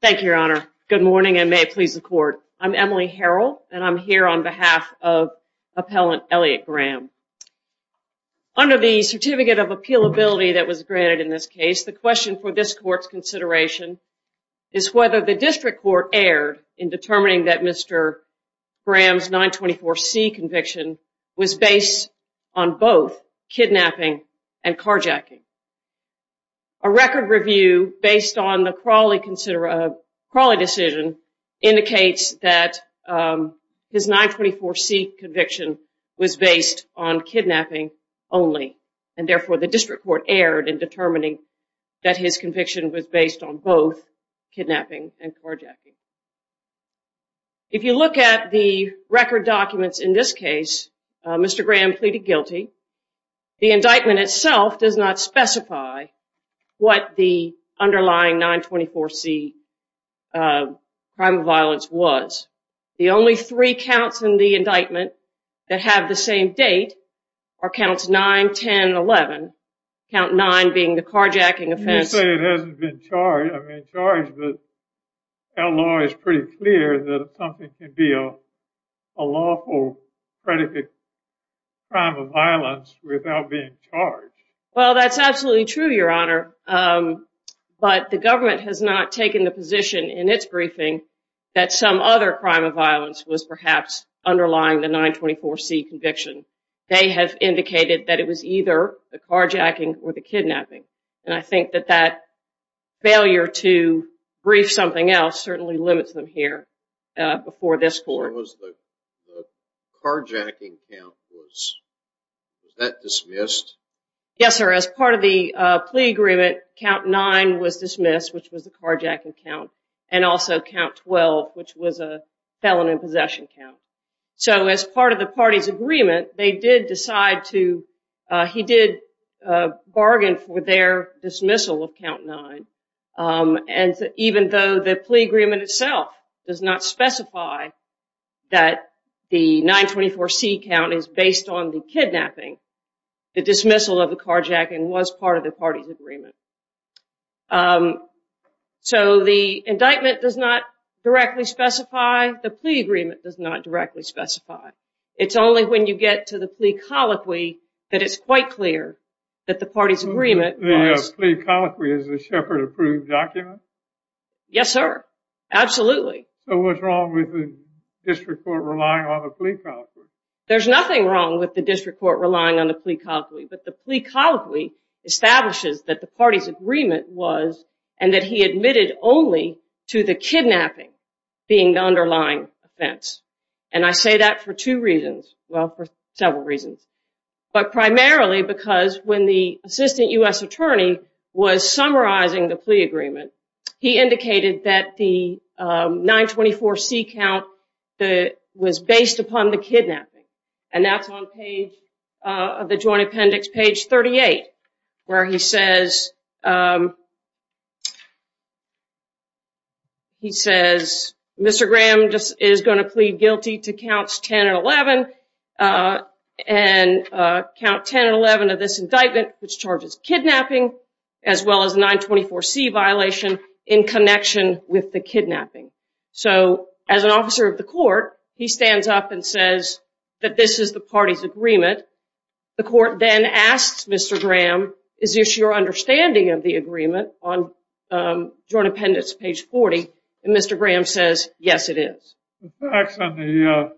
Thank you, your honor. Good morning and may it please the court. I'm Emily Harrell and I'm here on behalf of appellant Elliott Graham. Under the certificate of appealability that was granted in this case, the question for this court's consideration is whether the district court erred in determining that Mr. Graham's 924c conviction was based on both kidnapping and a crawly decision indicates that his 924c conviction was based on kidnapping only, and therefore the district court erred in determining that his conviction was based on both kidnapping and carjacking. If you look at the record documents in this case, Mr. Graham pleaded guilty. The indictment itself does not specify what the underlying 924c crime of violence was. The only three counts in the indictment that have the same date are counts 9, 10, and 11, count 9 being the carjacking offense. You say it hasn't been charged, but our law is pretty clear that something could be a lawful predicate crime of violence without being charged. Well, that's absolutely true, your honor, but the government has not taken the position in its briefing that some other crime of violence was perhaps underlying the 924c conviction. They have indicated that it was either the carjacking or the kidnapping, and I think that failure to brief something else certainly limits them here before this court. What was the carjacking count? Was that dismissed? Yes, sir. As part of the plea agreement, count 9 was dismissed, which was the carjacking count, and also count 12, which was a felon in possession count. So as part of the party's agreement, count 9, and even though the plea agreement itself does not specify that the 924c count is based on the kidnapping, the dismissal of the carjacking was part of the party's agreement. So the indictment does not directly specify, the plea agreement does not directly specify. It's only when you get to the plea colloquy that it's quite clear that the party's agreement was. Plea colloquy is the Sheppard approved document? Yes, sir. Absolutely. So what's wrong with the district court relying on the plea colloquy? There's nothing wrong with the district court relying on the plea colloquy, but the plea colloquy establishes that the party's agreement was and that he admitted only to the kidnapping being the underlying offense, and I say that for two reasons. Well, for several reasons, but primarily because when the assistant U.S. attorney was summarizing the plea agreement, he indicated that the 924c count that was based upon the kidnapping, and that's on page of the joint appendix, page 38, where he says, um, he says, Mr. Graham is going to plead guilty to counts 10 and 11, and count 10 and 11 of this indictment, which charges kidnapping, as well as 924c violation in connection with the kidnapping. So as an officer of the court, he stands up and says that this is the party's agreement. The court then asks Mr. Graham, is this your understanding of the agreement on joint appendix, page 40, and Mr. Graham says, yes, it is. The facts on the,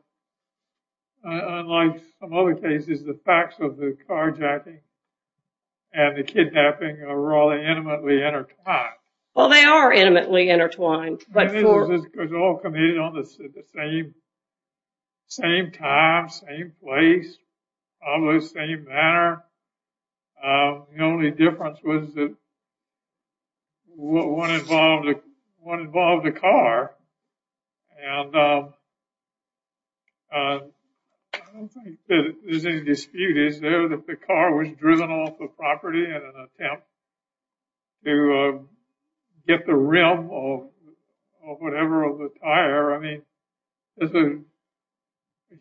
unlike some other cases, the facts of the carjacking and the kidnapping are all intimately intertwined. Well, they are intimately intertwined. They're all committed on the same time, same place, probably the same manner. The only difference was that one involved the car, and I don't think that there's any dispute, is there, that the car was driven off the property in an or whatever of the tire. I mean, there's a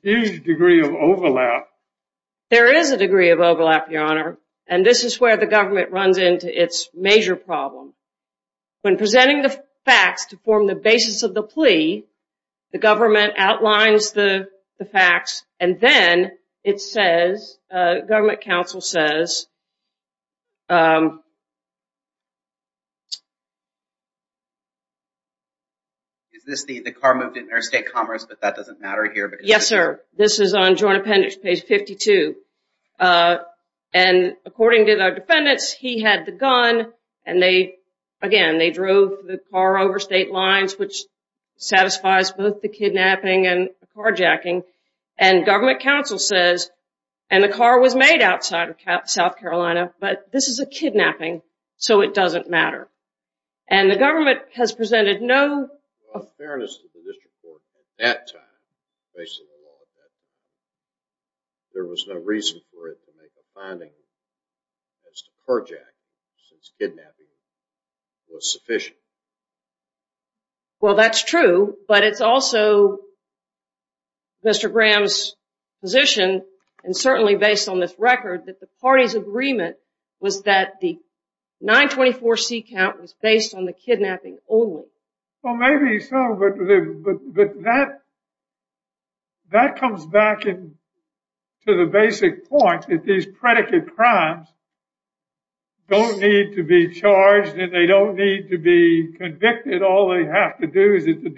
huge degree of overlap. There is a degree of overlap, Your Honor, and this is where the government runs into its major problem. When presenting the facts to form the basis of the plea, the government outlines the facts, and then it says, uh, government counsel says, is this the, the car moved in interstate commerce, but that doesn't matter here? Yes, sir. This is on joint appendix page 52, and according to the defendants, he had the gun, and they, again, they drove the car over state lines, which satisfies both the kidnapping and carjacking, and government counsel says, and the car was made outside of South Dakota, but this is a kidnapping, so it doesn't matter, and the government has presented no... Well, in fairness to the district court, at that time, based on the law at that time, there was no reason for it to make a finding as to carjacking, since kidnapping was sufficient. Well, that's true, but it's also Mr. Graham's position, and certainly based on this record, that the party's agreement was that the 924c count was based on the kidnapping only. Well, maybe so, but that, that comes back in to the basic point that these predicate crimes don't need to be charged, and they don't need to be convicted. All they have to do is that the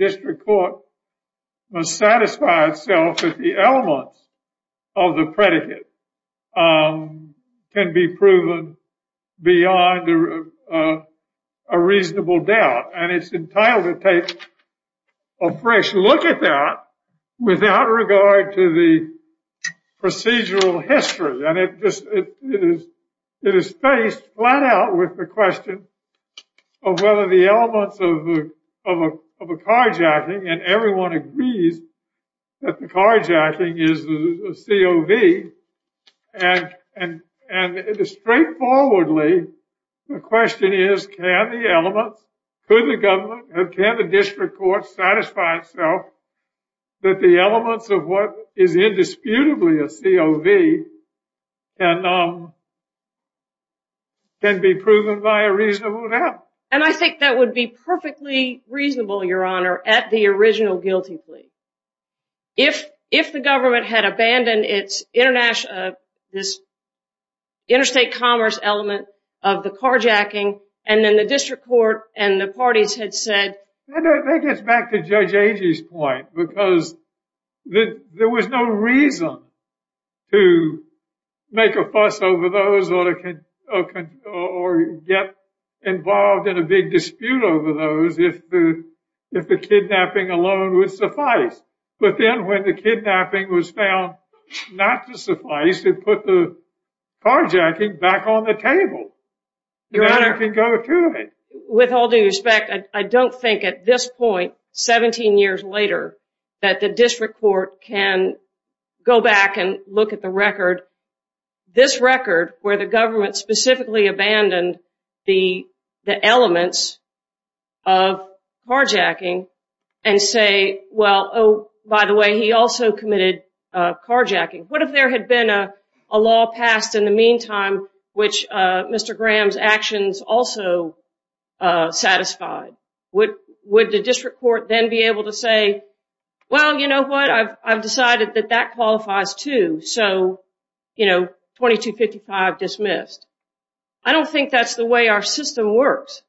can be proven beyond a reasonable doubt, and it's entitled to take a fresh look at that without regard to the procedural history, and it just, it is, it is spaced flat out with the question of whether the elements of a carjacking, and everyone agrees that the carjacking is the COV, and, and, and it is straightforwardly, the question is, can the elements, could the government, can the district court satisfy itself that the elements of what is indisputably a COV can, um, can be proven by a reasonable doubt? And I think that would be perfectly reasonable, your honor, at the original guilty plea. If, if the government had abandoned its international, this interstate commerce element of the carjacking, and then the district court and the parties had said... I think it's back to Judge Agee's point, because there was no reason to make a fuss over or get involved in a big dispute over those if the, if the kidnapping alone would suffice. But then when the kidnapping was found not to suffice, it put the carjacking back on the table. Your honor, with all due respect, I don't think at this point, 17 years later, that the district court can go back and look at the record, this record, where the government specifically abandoned the, the elements of carjacking, and say, well, oh, by the way, he also committed carjacking. What if there had been a law passed in the meantime, which Mr. Graham's actions also satisfied? Would, would the district court then be able to say, well, you know what, I've, I've decided that that qualifies too. So, you know, 2255 dismissed. I don't think that's the way our system works.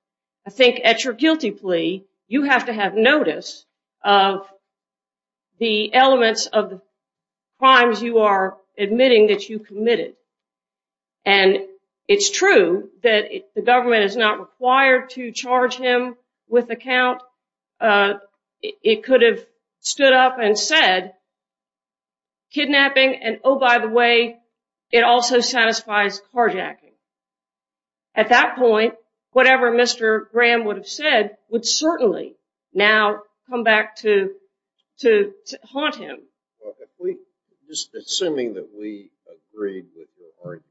I think at your guilty plea, you have to have notice of the elements of the crimes you are admitting that you committed. And it's true that the government is not required to charge him with account. It could have stood up and said, kidnapping, and oh, by the way, it also satisfies carjacking. At that point, whatever Mr. Graham would have said would certainly now come back to, to haunt him. Just assuming that we agreed with your argument,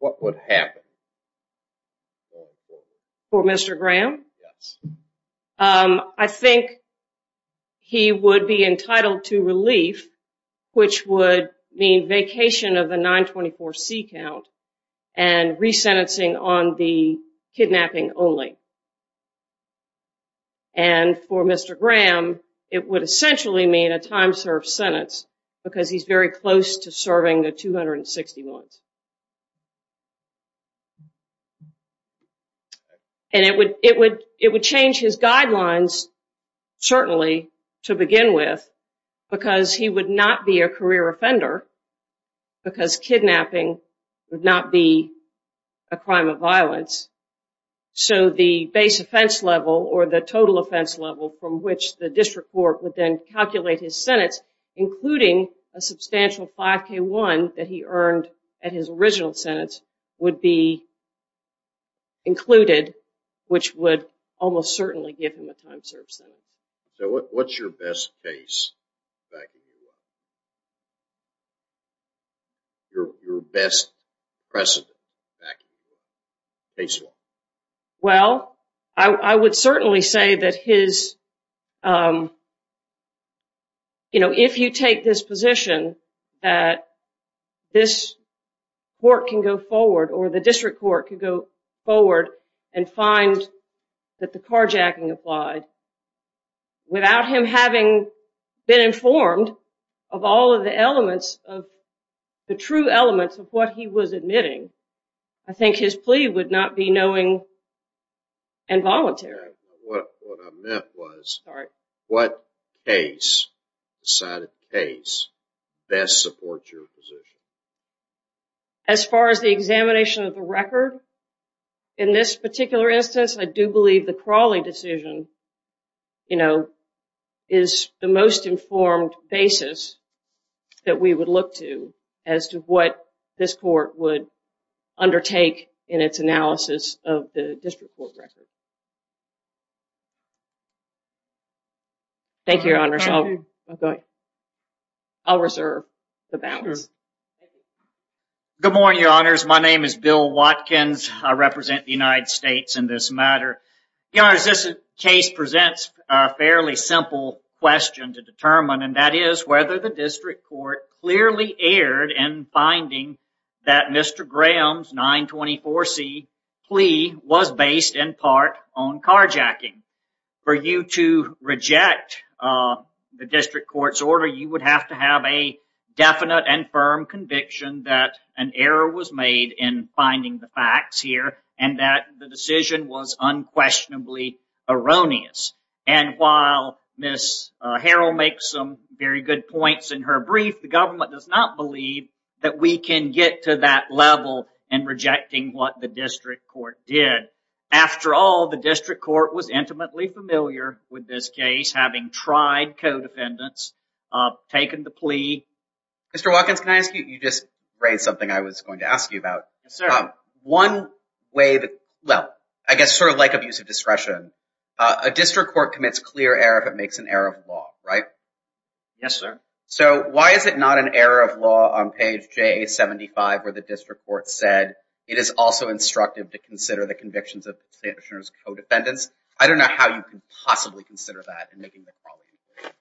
what would happen? For Mr. Graham? Yes. I think he would be entitled to relief, which would mean vacation of the 924c count and resentencing on the kidnapping only. And for Mr. Graham, it would essentially mean a time served sentence, because he's very close to serving the 261s. And it would, it would, it would change his guidelines, certainly, to begin with, because he would not be a career offender, because kidnapping would not be a crime of violence. So the base level or the total offense level from which the district court would then calculate his sentence, including a substantial 5k1 that he earned at his original sentence, would be included, which would almost certainly give him a time served sentence. So what's your best case back in New York? Well, I would certainly say that his, you know, if you take this position, that this court can go forward, or the district court can go forward and find that the carjacking applied, without him having been informed, that he would be charged with a crime of violence. Of all of the elements of the true elements of what he was admitting, I think his plea would not be knowing and voluntary. What I meant was, what case, decided case, best supports your position? As far as the examination of the record, in this particular instance, I do believe the that we would look to as to what this court would undertake in its analysis of the district court record. Thank you, Your Honors. I'll reserve the balance. Good morning, Your Honors. My name is Bill Watkins. I represent the United States in this matter. Your Honors, this case presents a fairly simple question to determine, and that is whether the district court clearly erred in finding that Mr. Graham's 924C plea was based in part on carjacking. For you to reject the district court's order, you would have to have a definite and firm conviction that an error was made in finding the facts here, and that the decision was unquestionably erroneous. And while Ms. Harrell makes some very good points in her brief, the government does not believe that we can get to that level in rejecting what the district court did. After all, the district court was intimately familiar with this case, having tried codependence, taken the plea. Mr. Watkins, can I ask you, you just raised something I was going to ask you about. One way that, well, I guess sort of like abuse of discretion, a district court commits clear error if it makes an error of law, right? Yes, sir. So why is it not an error of law on page JA-75 where the district court said it is also instructive to consider the convictions of the plaintiff's codependence? I don't know how you could possibly consider that in making the crawling inquiry.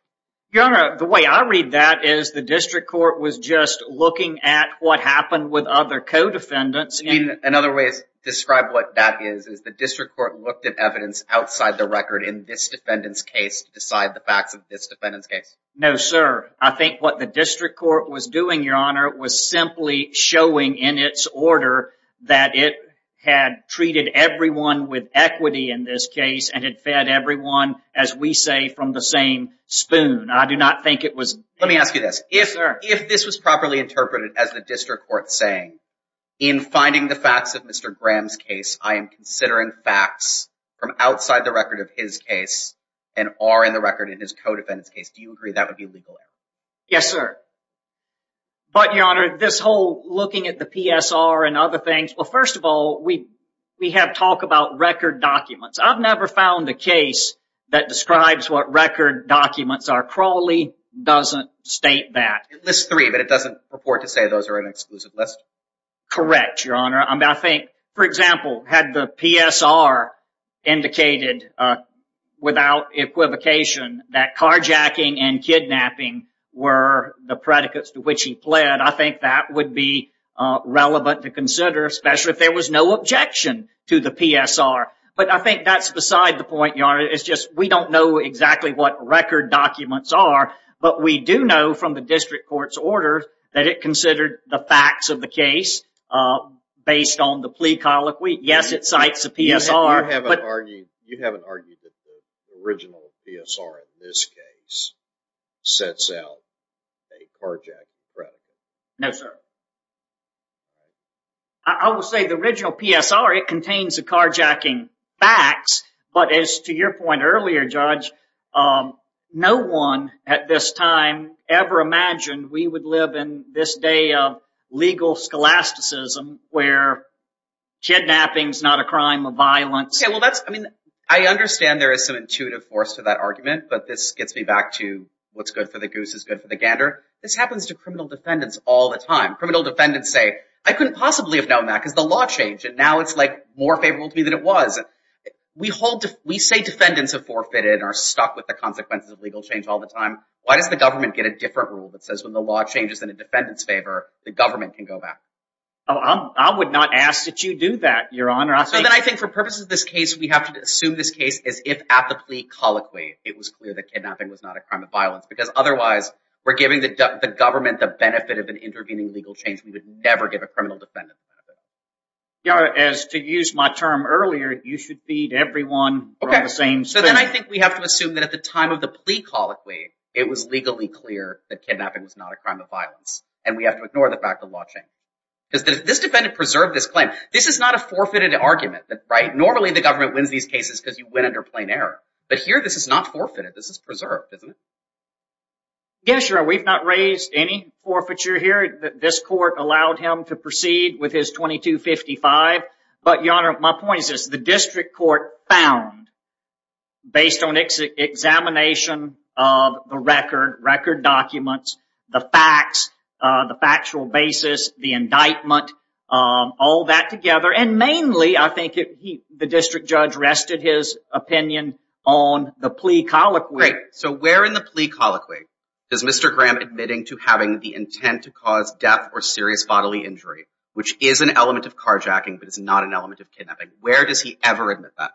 Your Honor, the way I read that is the district court was just looking at what happened with other co-defendants. In other ways, describe what that is. Is the district court looked at evidence outside the record in this defendant's case to decide the facts of this defendant's case? No, sir. I think what the district court was doing, Your Honor, was simply showing in its order that it had treated everyone with equity in this case and had fed everyone, as we say, from the same spoon. I do not think it was... Let me ask you this. If this was properly interpreted as the district court saying, in finding the facts of Mr. Graham's case, I am considering facts from outside the record of his case and are in the record in his co-defendant's case, do you agree that would be legal error? Yes, sir. But, Your Honor, this whole looking at the PSR and other things, well, first of all, we have talk about record documents. I've never found a case that describes what record documents are. Crawley doesn't state that. It lists three, but it doesn't report to say those are an exclusive list. Correct, Your Honor. I think, for example, had the PSR indicated without equivocation that carjacking and kidnapping were the predicates to which he pled, I think that would be relevant to consider, especially if there was no objection to the PSR. But I think that's beside the point, Your Honor. It's just we don't know exactly what record documents are, but we do know from the district court's order that it considered the facts of the case based on the plea colloquy. Yes, it cites the PSR. You haven't argued that the original PSR in this case sets out a carjacking predicate? No, sir. I will say the original PSR, it contains the carjacking facts, but as to your earlier, Judge, no one at this time ever imagined we would live in this day of legal scholasticism where kidnapping is not a crime of violence. I understand there is some intuitive force to that argument, but this gets me back to what's good for the goose is good for the gander. This happens to criminal defendants all the time. Criminal defendants say, I couldn't possibly have known that because the law changed, and now it's more favorable to me than it was. We say defendants have forfeited and are stuck with the consequences of legal change all the time. Why does the government get a different rule that says when the law changes in a defendant's favor, the government can go back? I would not ask that you do that, Your Honor. Then I think for purposes of this case, we have to assume this case as if at the plea colloquy, it was clear that kidnapping was not a crime of violence because otherwise we're giving the government the benefit of an intervening legal change. We would never give a criminal defendant benefit. Your Honor, as to use my term earlier, you should feed everyone the same. Okay. Then I think we have to assume that at the time of the plea colloquy, it was legally clear that kidnapping was not a crime of violence, and we have to ignore the fact of law change because this defendant preserved this claim. This is not a forfeited argument, right? Normally, the government wins these cases because you went under plain error, but here this is not forfeited. This is preserved, isn't it? Yes, Your Honor. We've not raised any forfeiture here. This court allowed him to proceed with his 2255, but Your Honor, my point is this. The district court found based on examination of the record, record documents, the facts, the factual basis, the indictment, all that together, and mainly I think the district judge rested his opinion on the plea colloquy. So where in the plea colloquy is Mr. Graham admitting to having the intent to cause death or serious bodily injury, which is an element of carjacking, but it's not an element of kidnapping? Where does he ever admit that?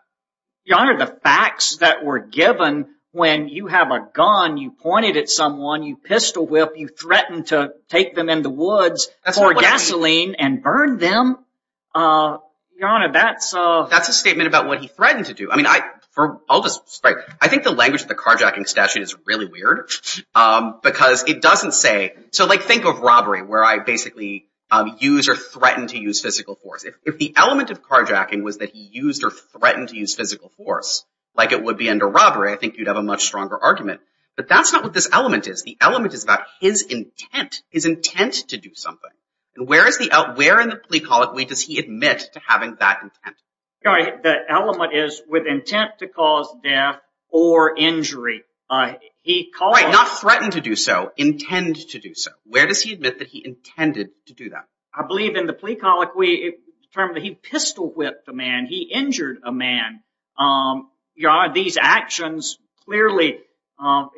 Your Honor, the facts that were given when you have a gun, you pointed at someone, you pistol-whipped, you threatened to take them in the woods, pour gasoline, and burn them. Your Honor, that's a... That's a statement about what he threatened to do. I mean, I think the language of the carjacking statute is really weird, because it doesn't say... So like think of robbery, where I basically use or threaten to use physical force. If the element of carjacking was that he used or threatened to use physical force, like it would be under robbery, I think you'd have a much stronger argument. But that's not what this element is. The element is about his intent, his intent to do something. And where in the plea colloquy does he admit to having that intent? The element is with intent to cause death or injury. He calls... Right, not threaten to do so, intend to do so. Where does he admit that he intended to do that? I believe in the plea colloquy, he pistol-whipped a man, he injured a man. These actions, clearly,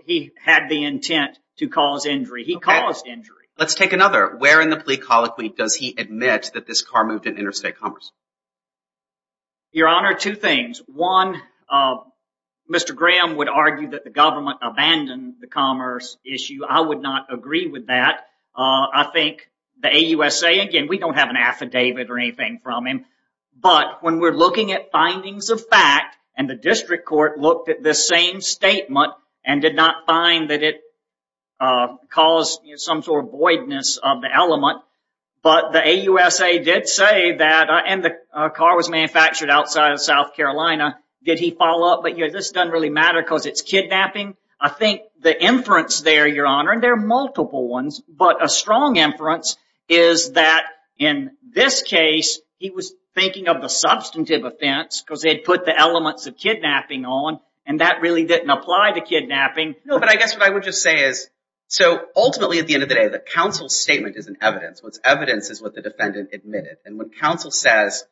he had the intent to cause injury. He caused injury. Let's take another. Where in the plea colloquy does he admit that this car moved in interstate commerce? Your Honor, two things. One, Mr. Graham would argue that the government abandoned the commerce issue. I would not agree with that. I think the AUSA, again, we don't have an affidavit or anything from him. But when we're looking at findings of fact, and the district court looked at this same statement and did not find that it caused some sort of voidness of the element. But the AUSA did say that, and the car was manufactured outside of South Carolina. Did he follow up? But yeah, this doesn't really matter because it's kidnapping. I think the inference there, Your Honor, and there are multiple ones, but a strong inference is that in this case, he was thinking of the substantive offense because they'd put the elements of kidnapping on, and that really didn't apply to kidnapping. No, but I guess what I would just say is, so ultimately, at the end of the day, the counsel's statement is an evidence. What's evidence is what the defendant admitted. And when counsel says,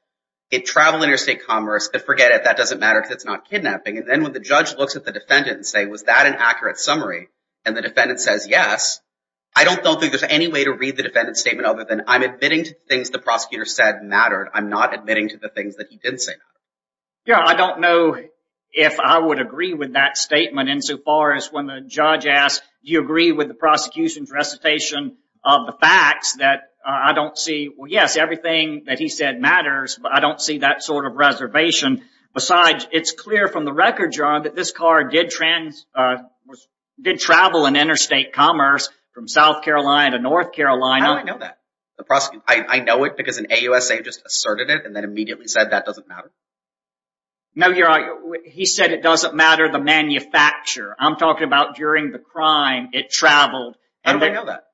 it traveled interstate commerce, but forget it, that doesn't matter because it's not kidnapping. And then when the judge looks at the defendant and say, was that an accurate summary? And the defendant says, yes. I don't think there's any way to read the defendant's statement other than I'm admitting to things the prosecutor said mattered. I'm not admitting to the things that he didn't say mattered. Yeah, I don't know if I would agree with that statement insofar as when the judge asked, do you agree with the prosecution's observation of the facts that I don't see? Well, yes, everything that he said matters, but I don't see that sort of reservation. Besides, it's clear from the record, John, that this car did travel in interstate commerce from South Carolina to North Carolina. How do I know that? I know it because an AUSA just asserted it and then immediately said that doesn't matter. No, you're right. He said it doesn't matter the manufacturer. I'm talking about during the crime, it traveled. How do I know that?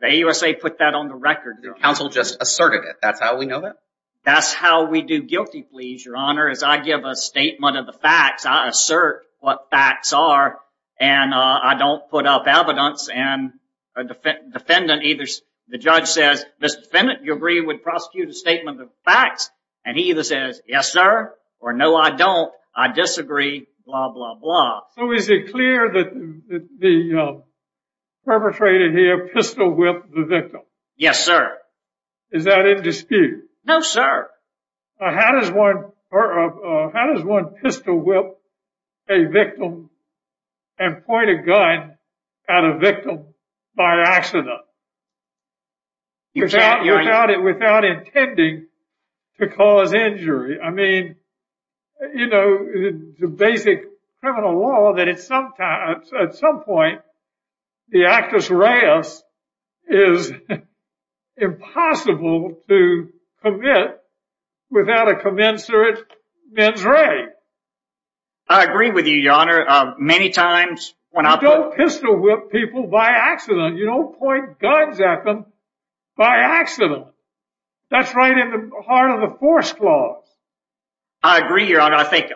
The AUSA put that on the record. The counsel just asserted it. That's how we know that? That's how we do guilty pleas, your honor, is I give a statement of the facts. I assert what facts are and I don't put up evidence and the defendant either, the judge says, Mr. Fennett, do you agree with the prosecutor's statement of the facts? And he either says, yes, sir, or no, I don't. I disagree, blah, blah, blah. So is it clear that the perpetrator here pistol whipped the victim? Yes, sir. Is that in dispute? No, sir. How does one pistol whip a victim and point a gun at a victim by accident? Without intending to cause injury. I mean, you know, the basic criminal law that it's sometimes at some point the actus reus is impossible to commit without a commensurate mens rea. I agree with you, your honor. Many times when I don't pistol whip people by accident, you don't point guns at them by accident. That's right in the heart of the force clause. I agree, your honor. I think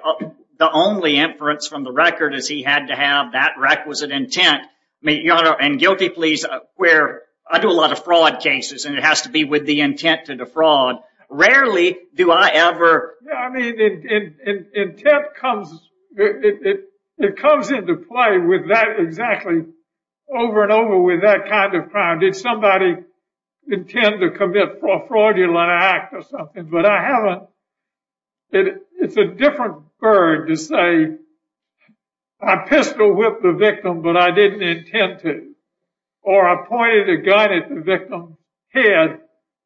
the only inference from the record is he had to have that requisite intent. And guilty pleas where I do a lot of fraud cases and it has to be with the intent to defraud. Rarely do I ever. Yeah, I mean, intent comes, it comes into play with that exactly over and over with that kind of crime. Did somebody intend to commit a fraudulent act or something? But I haven't. It's a different bird to say, I pistol whipped the victim, but I didn't intend to. Or I pointed a gun at the victim's head,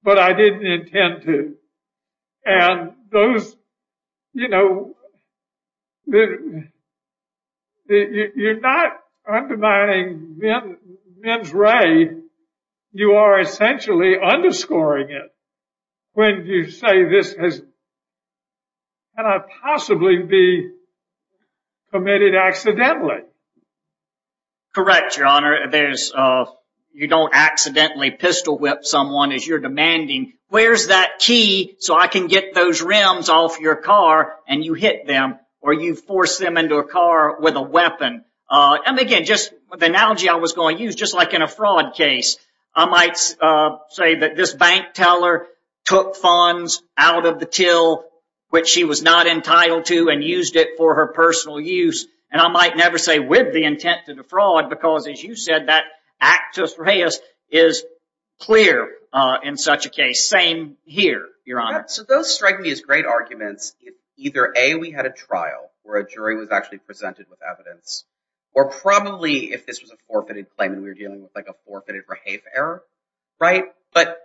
but I didn't intend to. And those, you know, you're not undermining mens rea. You are essentially underscoring it when you say this has possibly be committed accidentally. Correct, your honor. There's you don't accidentally pistol whip someone as you're demanding. Where's that key so I can get those rims off your car and you hit them or you force them into a car with a weapon? And again, just the analogy I was going to use, just like in a fraud case, I might say that this bank teller took funds out of the till which she was not entitled to and used it for her personal use. And I might never say with the intent to defraud because, as you said, that actus reus is clear in such a case. Same here, your honor. So those strike me as great arguments. Either a we had a trial where a jury was actually presented with evidence or probably if this was a forfeited claim and we were dealing with like a forfeited rehafe error. Right. But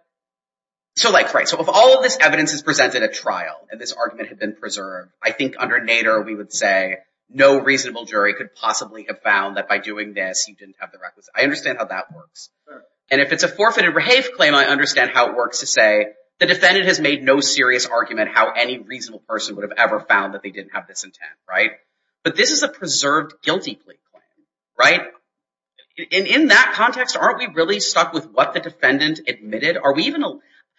so like, right. So if all of this evidence is presented at trial and this argument had been preserved, I think under Nader, we would say no reasonable jury could possibly have found that by doing this, you didn't have the requisite. I understand how that works. And if it's a forfeited rehafe claim, I understand how it works to say the defendant has made no serious argument how any reasonable person would have ever found that they didn't have this intent. Right. But this is a preserved guilty plea claim. Right. In that context, aren't we really stuck with what the defendant admitted? Are we even?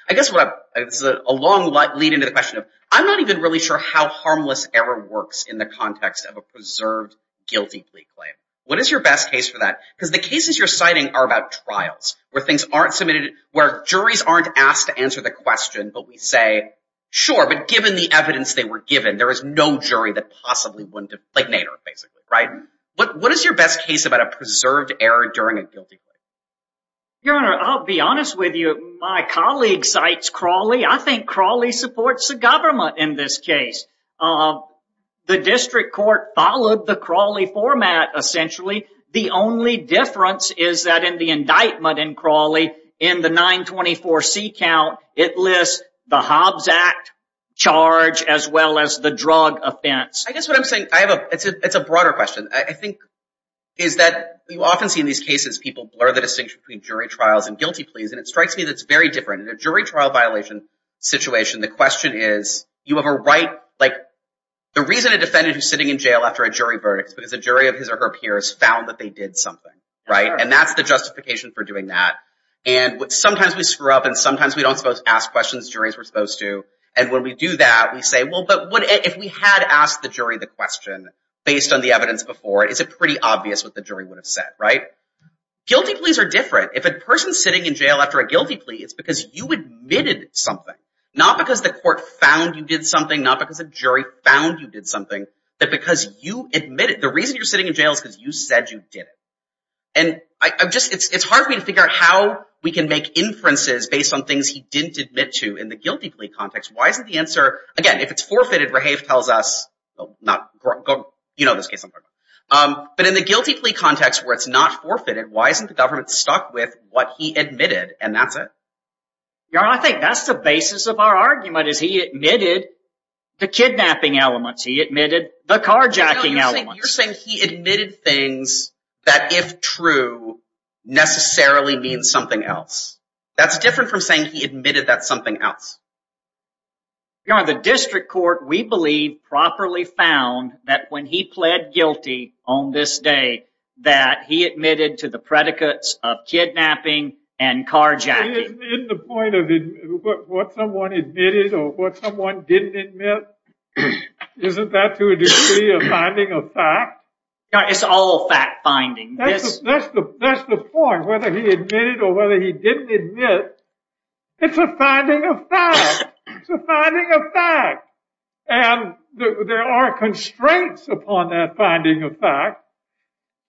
I guess what is a long lead into the question of I'm not even really sure how harmless error works in the context of a preserved guilty plea claim. What is your best case for that? Because the cases you're citing are about trials where things aren't submitted, where juries aren't asked to answer the question, but we say, sure, but given the evidence they were given, there is no jury that possibly wouldn't have, like Nader basically. Right. But what is your best case about a preserved error during a guilty plea? Your Honor, I'll be honest with you. My colleague cites Crawley. I think Crawley supports the government in this case. The district court followed the Crawley format, essentially. The only difference is that in the indictment in Crawley, in the 924C count, it lists the Hobbs Act charge as well as the drug offense. I guess what I'm saying, I have a, it's a broader question. I think is that you often see in these cases, people blur the distinction between jury trials and guilty pleas. And it strikes me that it's very different in a jury trial violation situation. The question is you have a right, like the reason a defendant who's sitting in jail after a jury verdict is because a jury of his or her peers found that they did something. Right. And that's the justification for doing that. And sometimes we screw up and sometimes we don't suppose to ask questions juries were supposed to. And when we do that, we say, well, but what if we had asked the jury the question based on the evidence before, is it pretty obvious what the jury would have said? Right. Guilty pleas are different. If a person's sitting in jail after a guilty plea, it's because you admitted something, not because the court found you did something, not because a jury found you did something, but because you admit it. The reason you're sitting in jail is because you said you did it. And I'm just, it's hard for me to figure out how we can make inferences based on things he didn't admit to in the guilty plea context. Why isn't the answer, again, if it's forfeited, Rahave tells us, not, you know this case, but in the guilty plea context where it's not forfeited, why isn't the government stuck with what he admitted and that's it? Your Honor, I think that's the basis of our argument is he admitted the kidnapping elements. He admitted the carjacking elements. You're saying he admitted things that, if true, necessarily means something else. That's different from saying he admitted that's something else. Your Honor, the district court, we believe, properly found that when he pled guilty on this day that he admitted to the predicates of kidnapping and carjacking. Isn't the point of what someone admitted or what someone didn't admit, isn't that to a degree a finding of fact? Your Honor, it's all fact finding. That's the point, whether he admitted or whether he didn't admit. It's a finding of fact. It's a finding of fact. And there are constraints upon that finding of fact.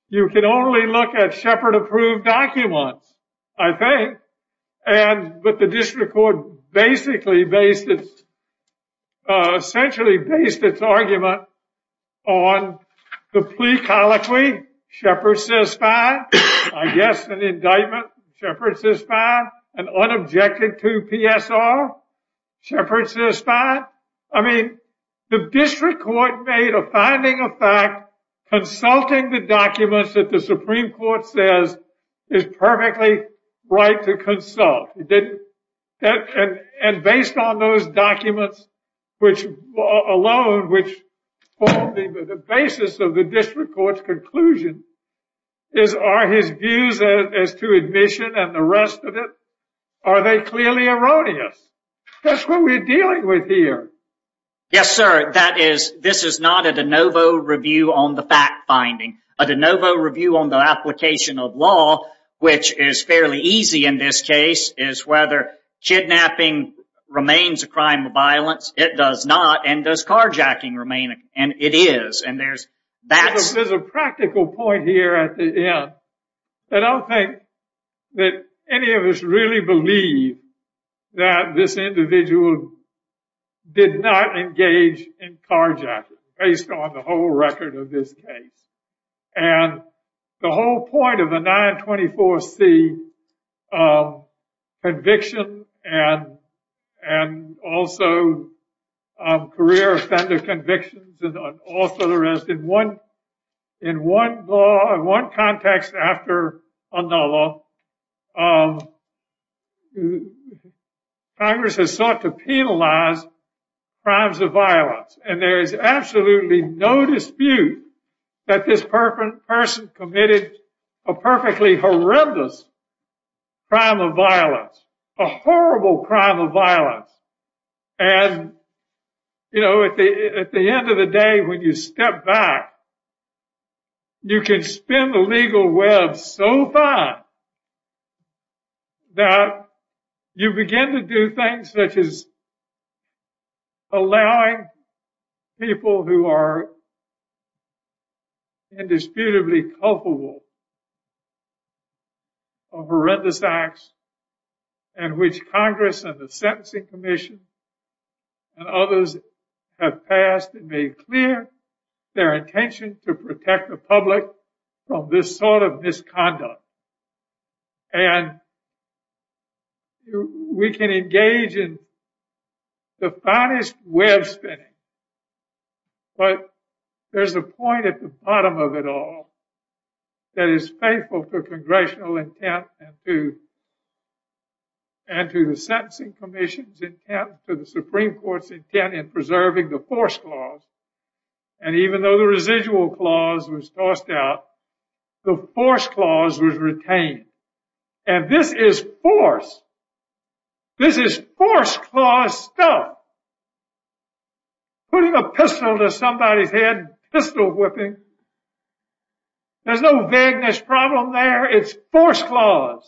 You can only look at Sheppard approved documents, I think. But the district court essentially based its argument on the plea colloquy, Sheppard says fine. I guess an indictment, Sheppard says fine. An unobjected two PSR, Sheppard says fine. I mean, the district court made a finding of fact, consulting the documents that the Supreme Court says is perfectly right to consult. And based on those documents alone, which form the basis of the district court's conclusion, are his views as to admission and the rest of it, are they clearly erroneous? That's what we're dealing with here. Yes, sir. That is, this is not a de novo review on the fact finding. A de novo review on the application of law, which is fairly easy in this case, is whether kidnapping remains a crime of violence. It does not. And does carjacking remain? And it is. And there's a practical point here at the end. I don't think that any of us really believe that this individual did not engage in carjacking based on the whole record of this case. And the whole point of the 924C conviction and also career offender convictions also there is in one context after another, Congress has sought to penalize crimes of violence. And there is absolutely no dispute that this person committed a perfectly horrendous crime of violence, a horrible crime of violence. And, you know, at the end of the day, when you step back, you can spin the legal web so fine that you begin to do things such as allowing people who are indisputably culpable of horrendous acts in which Congress and the Sentencing Commission and others have passed and made clear their intention to protect the public from this sort of misconduct. And we can engage in the finest web spinning. But there's a point at the bottom of it all. That is faithful to congressional intent and to the Sentencing Commission's intent to the Supreme Court's intent in preserving the force clause. And even though the residual clause was tossed out, the force clause was retained. And this is force. This is force clause stuff. Putting a pistol to somebody's head, pistol whipping. There's no vagueness problem there. It's force clause.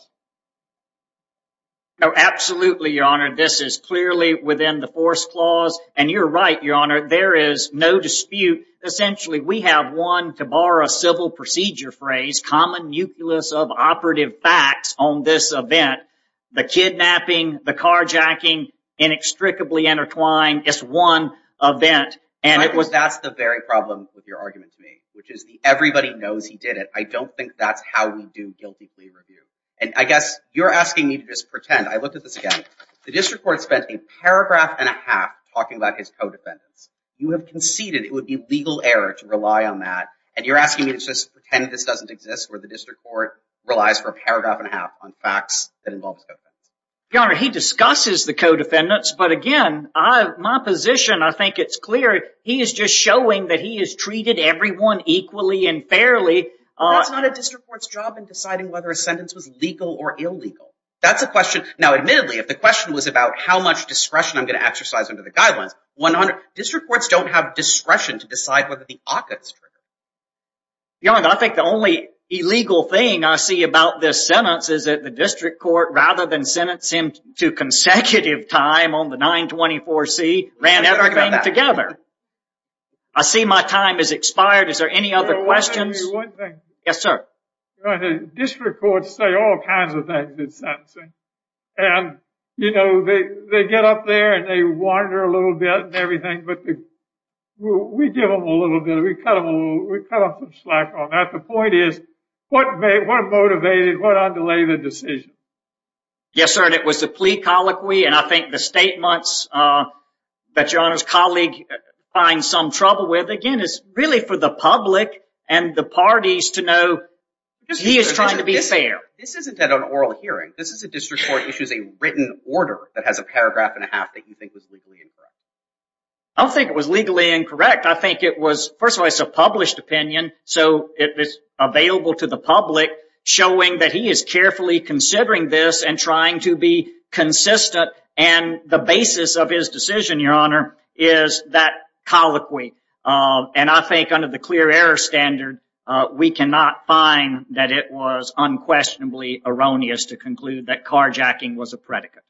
No, absolutely, Your Honor. This is clearly within the force clause. And you're right, Your Honor. There is no dispute. Essentially, we have one, to borrow a civil procedure phrase, common nucleus of operative facts on this event. The kidnapping, the carjacking, inextricably intertwined. It's one event. And that's the very problem with your argument to me, which is the everybody knows he did it. I don't think that's how we do guilty plea review. And I guess you're asking me to just pretend. I looked at this again. The district court spent a paragraph and a half talking about his co-defendants. You have conceded it would be legal error to rely on that. And you're asking me to just pretend this doesn't exist, where the district court relies for a paragraph and a half on facts that involve co-defendants. Your Honor, he discusses the co-defendants. But again, my position, I think it's clear. He is just showing that he has treated everyone equally and fairly. That's not a district court's job in deciding whether a sentence was legal or illegal. That's a question. Now, admittedly, if the question was about how much discretion I'm going to exercise under the guidelines, district courts don't have discretion to decide whether the occupants. Your Honor, I think the only illegal thing I see about this sentence is that the district court, rather than sentence him to consecutive time on the 924C, ran everything together. I see my time has expired. Is there any other questions? Yes, sir. District courts say all kinds of things in sentencing. And, you know, they get up there and they wander a little bit and everything. But we give them a little bit. We cut them some slack on that. The point is, what motivated, what underlay the decision? Yes, sir. And it was the plea colloquy. And I think the statements that Your Honor's colleague finds some trouble with, again, is really for the public and the parties to know he is trying to be fair. This isn't at an oral hearing. This is a district court issues a written order that has a paragraph and a half that you think was legally incorrect. I don't think it was legally incorrect. I think it was, first of all, it's a published opinion. So it was available to the public showing that he is carefully considering this and trying to be consistent. And the basis of his decision, Your Honor, is that colloquy. And I think under the clear error standard, we cannot find that it was unquestionably erroneous to conclude that carjacking was a predicate.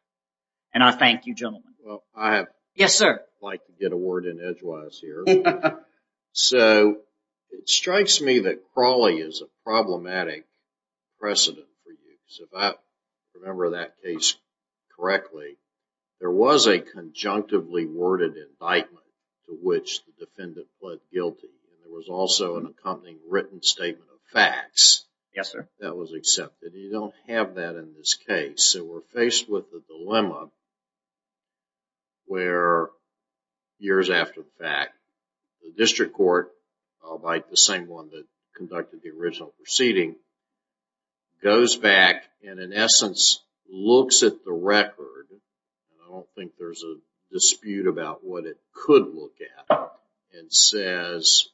And I thank you, gentlemen. Well, I have. Yes, sir. Like to get a word in edgewise here. So it strikes me that crawling is a problematic precedent for you. If I remember that case correctly, there was a conjunctively worded indictment to which the defendant pled guilty. There was also an accompanying written statement of facts. Yes, sir. That was accepted. You don't have that in this case. So we're faced with the dilemma where years after the fact, the district court, like the same one that conducted the original proceeding, goes back and, in essence, looks at the record, and I don't think there's a dispute about what it could look at, and says,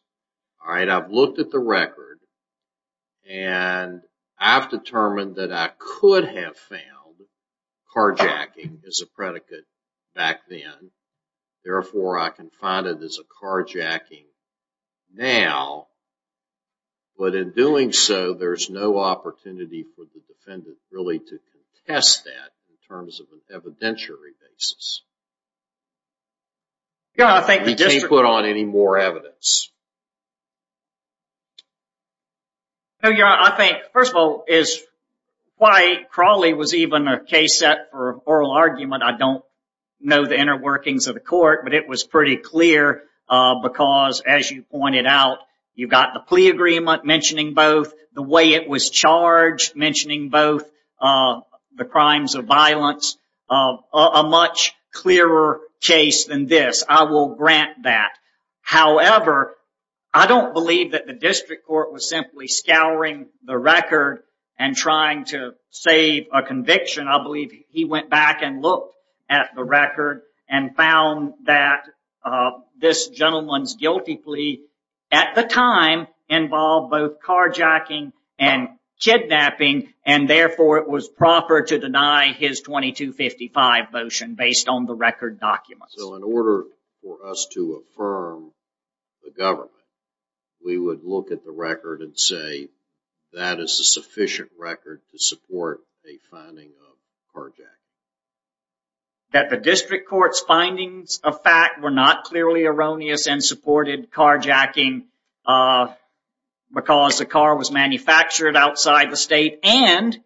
all right, I've looked at the record, and I've determined that I could have found carjacking as a predicate back then. Therefore, I can find it as a carjacking now. But in doing so, there's no opportunity for the defendant really to contest that in terms of an evidentiary basis. Yeah, I think the district court. We can't put on any more evidence. No, Your Honor. I think, first of all, is why crawly was even a case set for oral argument, I don't know the inner workings of the court, but it was pretty clear, because, as you pointed out, you've got the plea agreement mentioning both, the way it was charged mentioning both the crimes of violence, a much clearer case than this. I will grant that. However, I don't believe that the district court was simply scouring the record and trying to save a conviction. I believe he went back and looked at the record and found that this gentleman's guilty plea, at the time, involved both carjacking and kidnapping, and therefore it was proper to deny his 2255 motion based on the record documents. So in order for us to affirm the government, we would look at the record and say, that is a sufficient record to support a finding of carjacking. That the district court's findings of fact were not clearly erroneous and supported carjacking because the car was manufactured outside the state and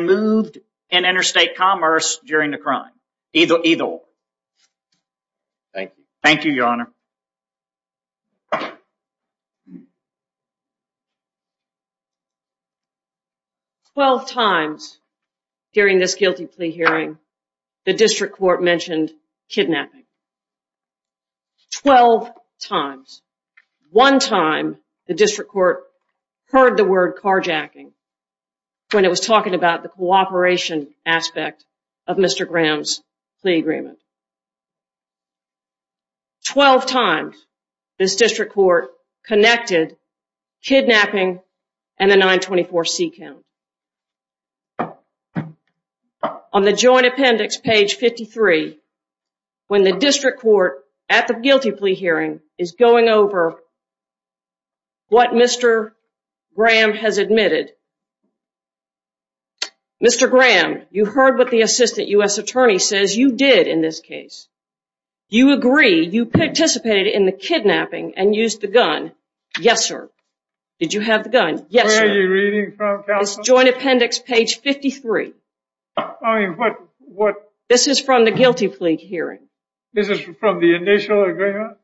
moved in interstate commerce during the crime. Either or. Thank you. Thank you, Your Honor. Twelve times during this guilty plea hearing, the district court mentioned kidnapping. Twelve times. One time, the district court heard the word carjacking when it was talking about the cooperation aspect of Mr. Graham's plea agreement. Twelve times, this district court connected kidnapping and the 924 C count. On the joint appendix, page 53, when the district court at the guilty plea hearing is going over what Mr. Graham has admitted. Mr. Graham, you heard what the assistant U.S. attorney says you did in this case. You agree, you participated in the kidnapping and used the gun. Yes, sir. Did you have the gun? Yes, sir. Where are you reading from, counsel? It's joint appendix, page 53. I mean, what? This is from the guilty plea hearing. This is from the initial agreement?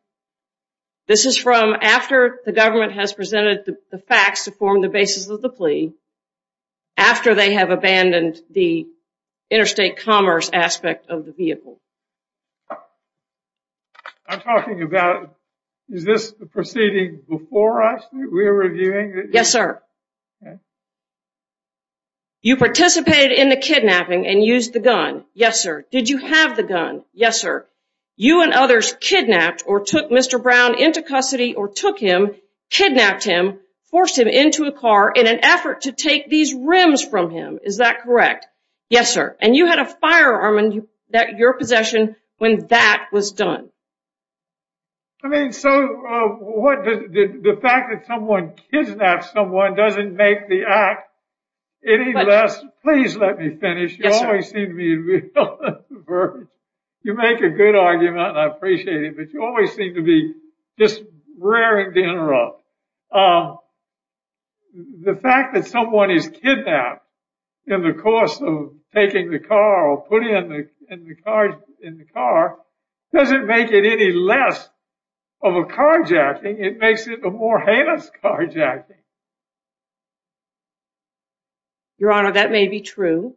This is from after the government has presented the facts to form the basis of the plea. After they have abandoned the interstate commerce aspect of the vehicle. I'm talking about, is this the proceeding before us that we're reviewing? Yes, sir. You participated in the kidnapping and used the gun. Yes, sir. Did you have the gun? Yes, sir. You and others kidnapped or took Mr. Brown into custody or took him, kidnapped him, forced him into a car in an effort to take these rims from him. Is that correct? Yes, sir. And you had a firearm in your possession when that was done. I mean, so what, the fact that someone kidnaps someone doesn't make the act any less. Please let me finish. You always seem to be, you make a good argument and I appreciate it, but you always seem to be just raring to interrupt. The fact that someone is kidnapped in the course of taking the car or putting in the car doesn't make it any less of a carjacking. It makes it a more heinous carjacking. Your Honor, that may be true,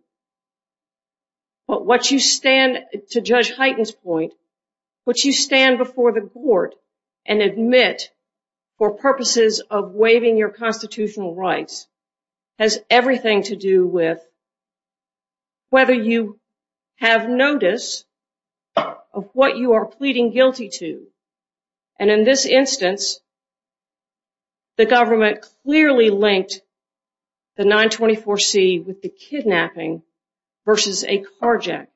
but what you stand, to Judge Hyten's point, what you stand before the court and admit for purposes of waiving your constitutional rights has everything to do with whether you have notice of what you are pleading guilty to. And in this instance, the government clearly linked the 924C with the kidnapping versus a carjacking.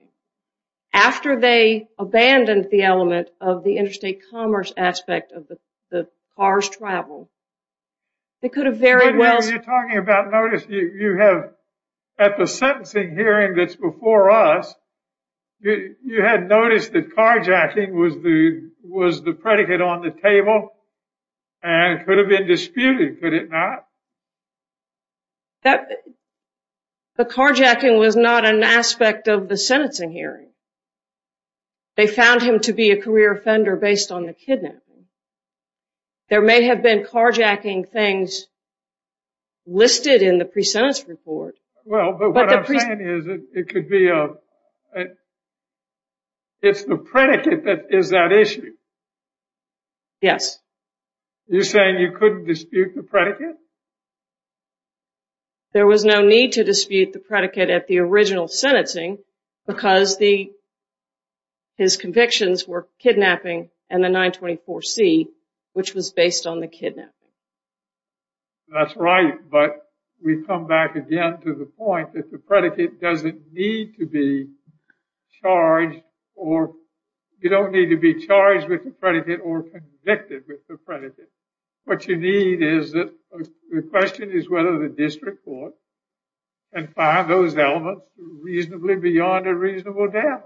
After they abandoned the element of the interstate commerce aspect of the car's travel, they could have very well... When you're talking about notice, you have, at the sentencing hearing that's before us, you had noticed that carjacking was the predicate on the table and could have been disputed, could it not? The carjacking was not an aspect of the sentencing hearing. They found him to be a career offender based on the kidnapping. There may have been carjacking things listed in the pre-sentence report. Well, but what I'm saying is it could be a... It's the predicate that is that issue. You're saying you couldn't dispute the predicate? No. There was no need to dispute the predicate at the original sentencing because his convictions were kidnapping and the 924C, which was based on the kidnapping. That's right. But we come back again to the point that the predicate doesn't need to be charged or... You don't need to be charged with the predicate or convicted with the predicate. What you need is that the question is whether the district court can find those elements reasonably beyond a reasonable doubt.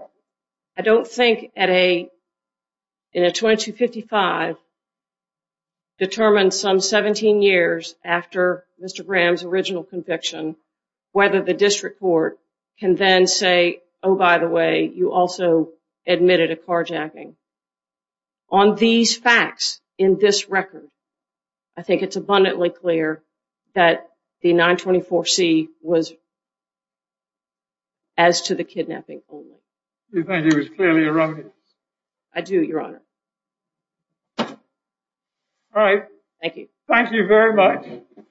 I don't think in a 2255, determined some 17 years after Mr. Graham's original conviction, whether the district court can then say, oh, by the way, you also admitted a carjacking. On these facts in this record, I think it's abundantly clear that the 924C was as to the kidnapping. You think it was clearly erroneous? I do, Your Honor. All right. Thank you. Thank you very much.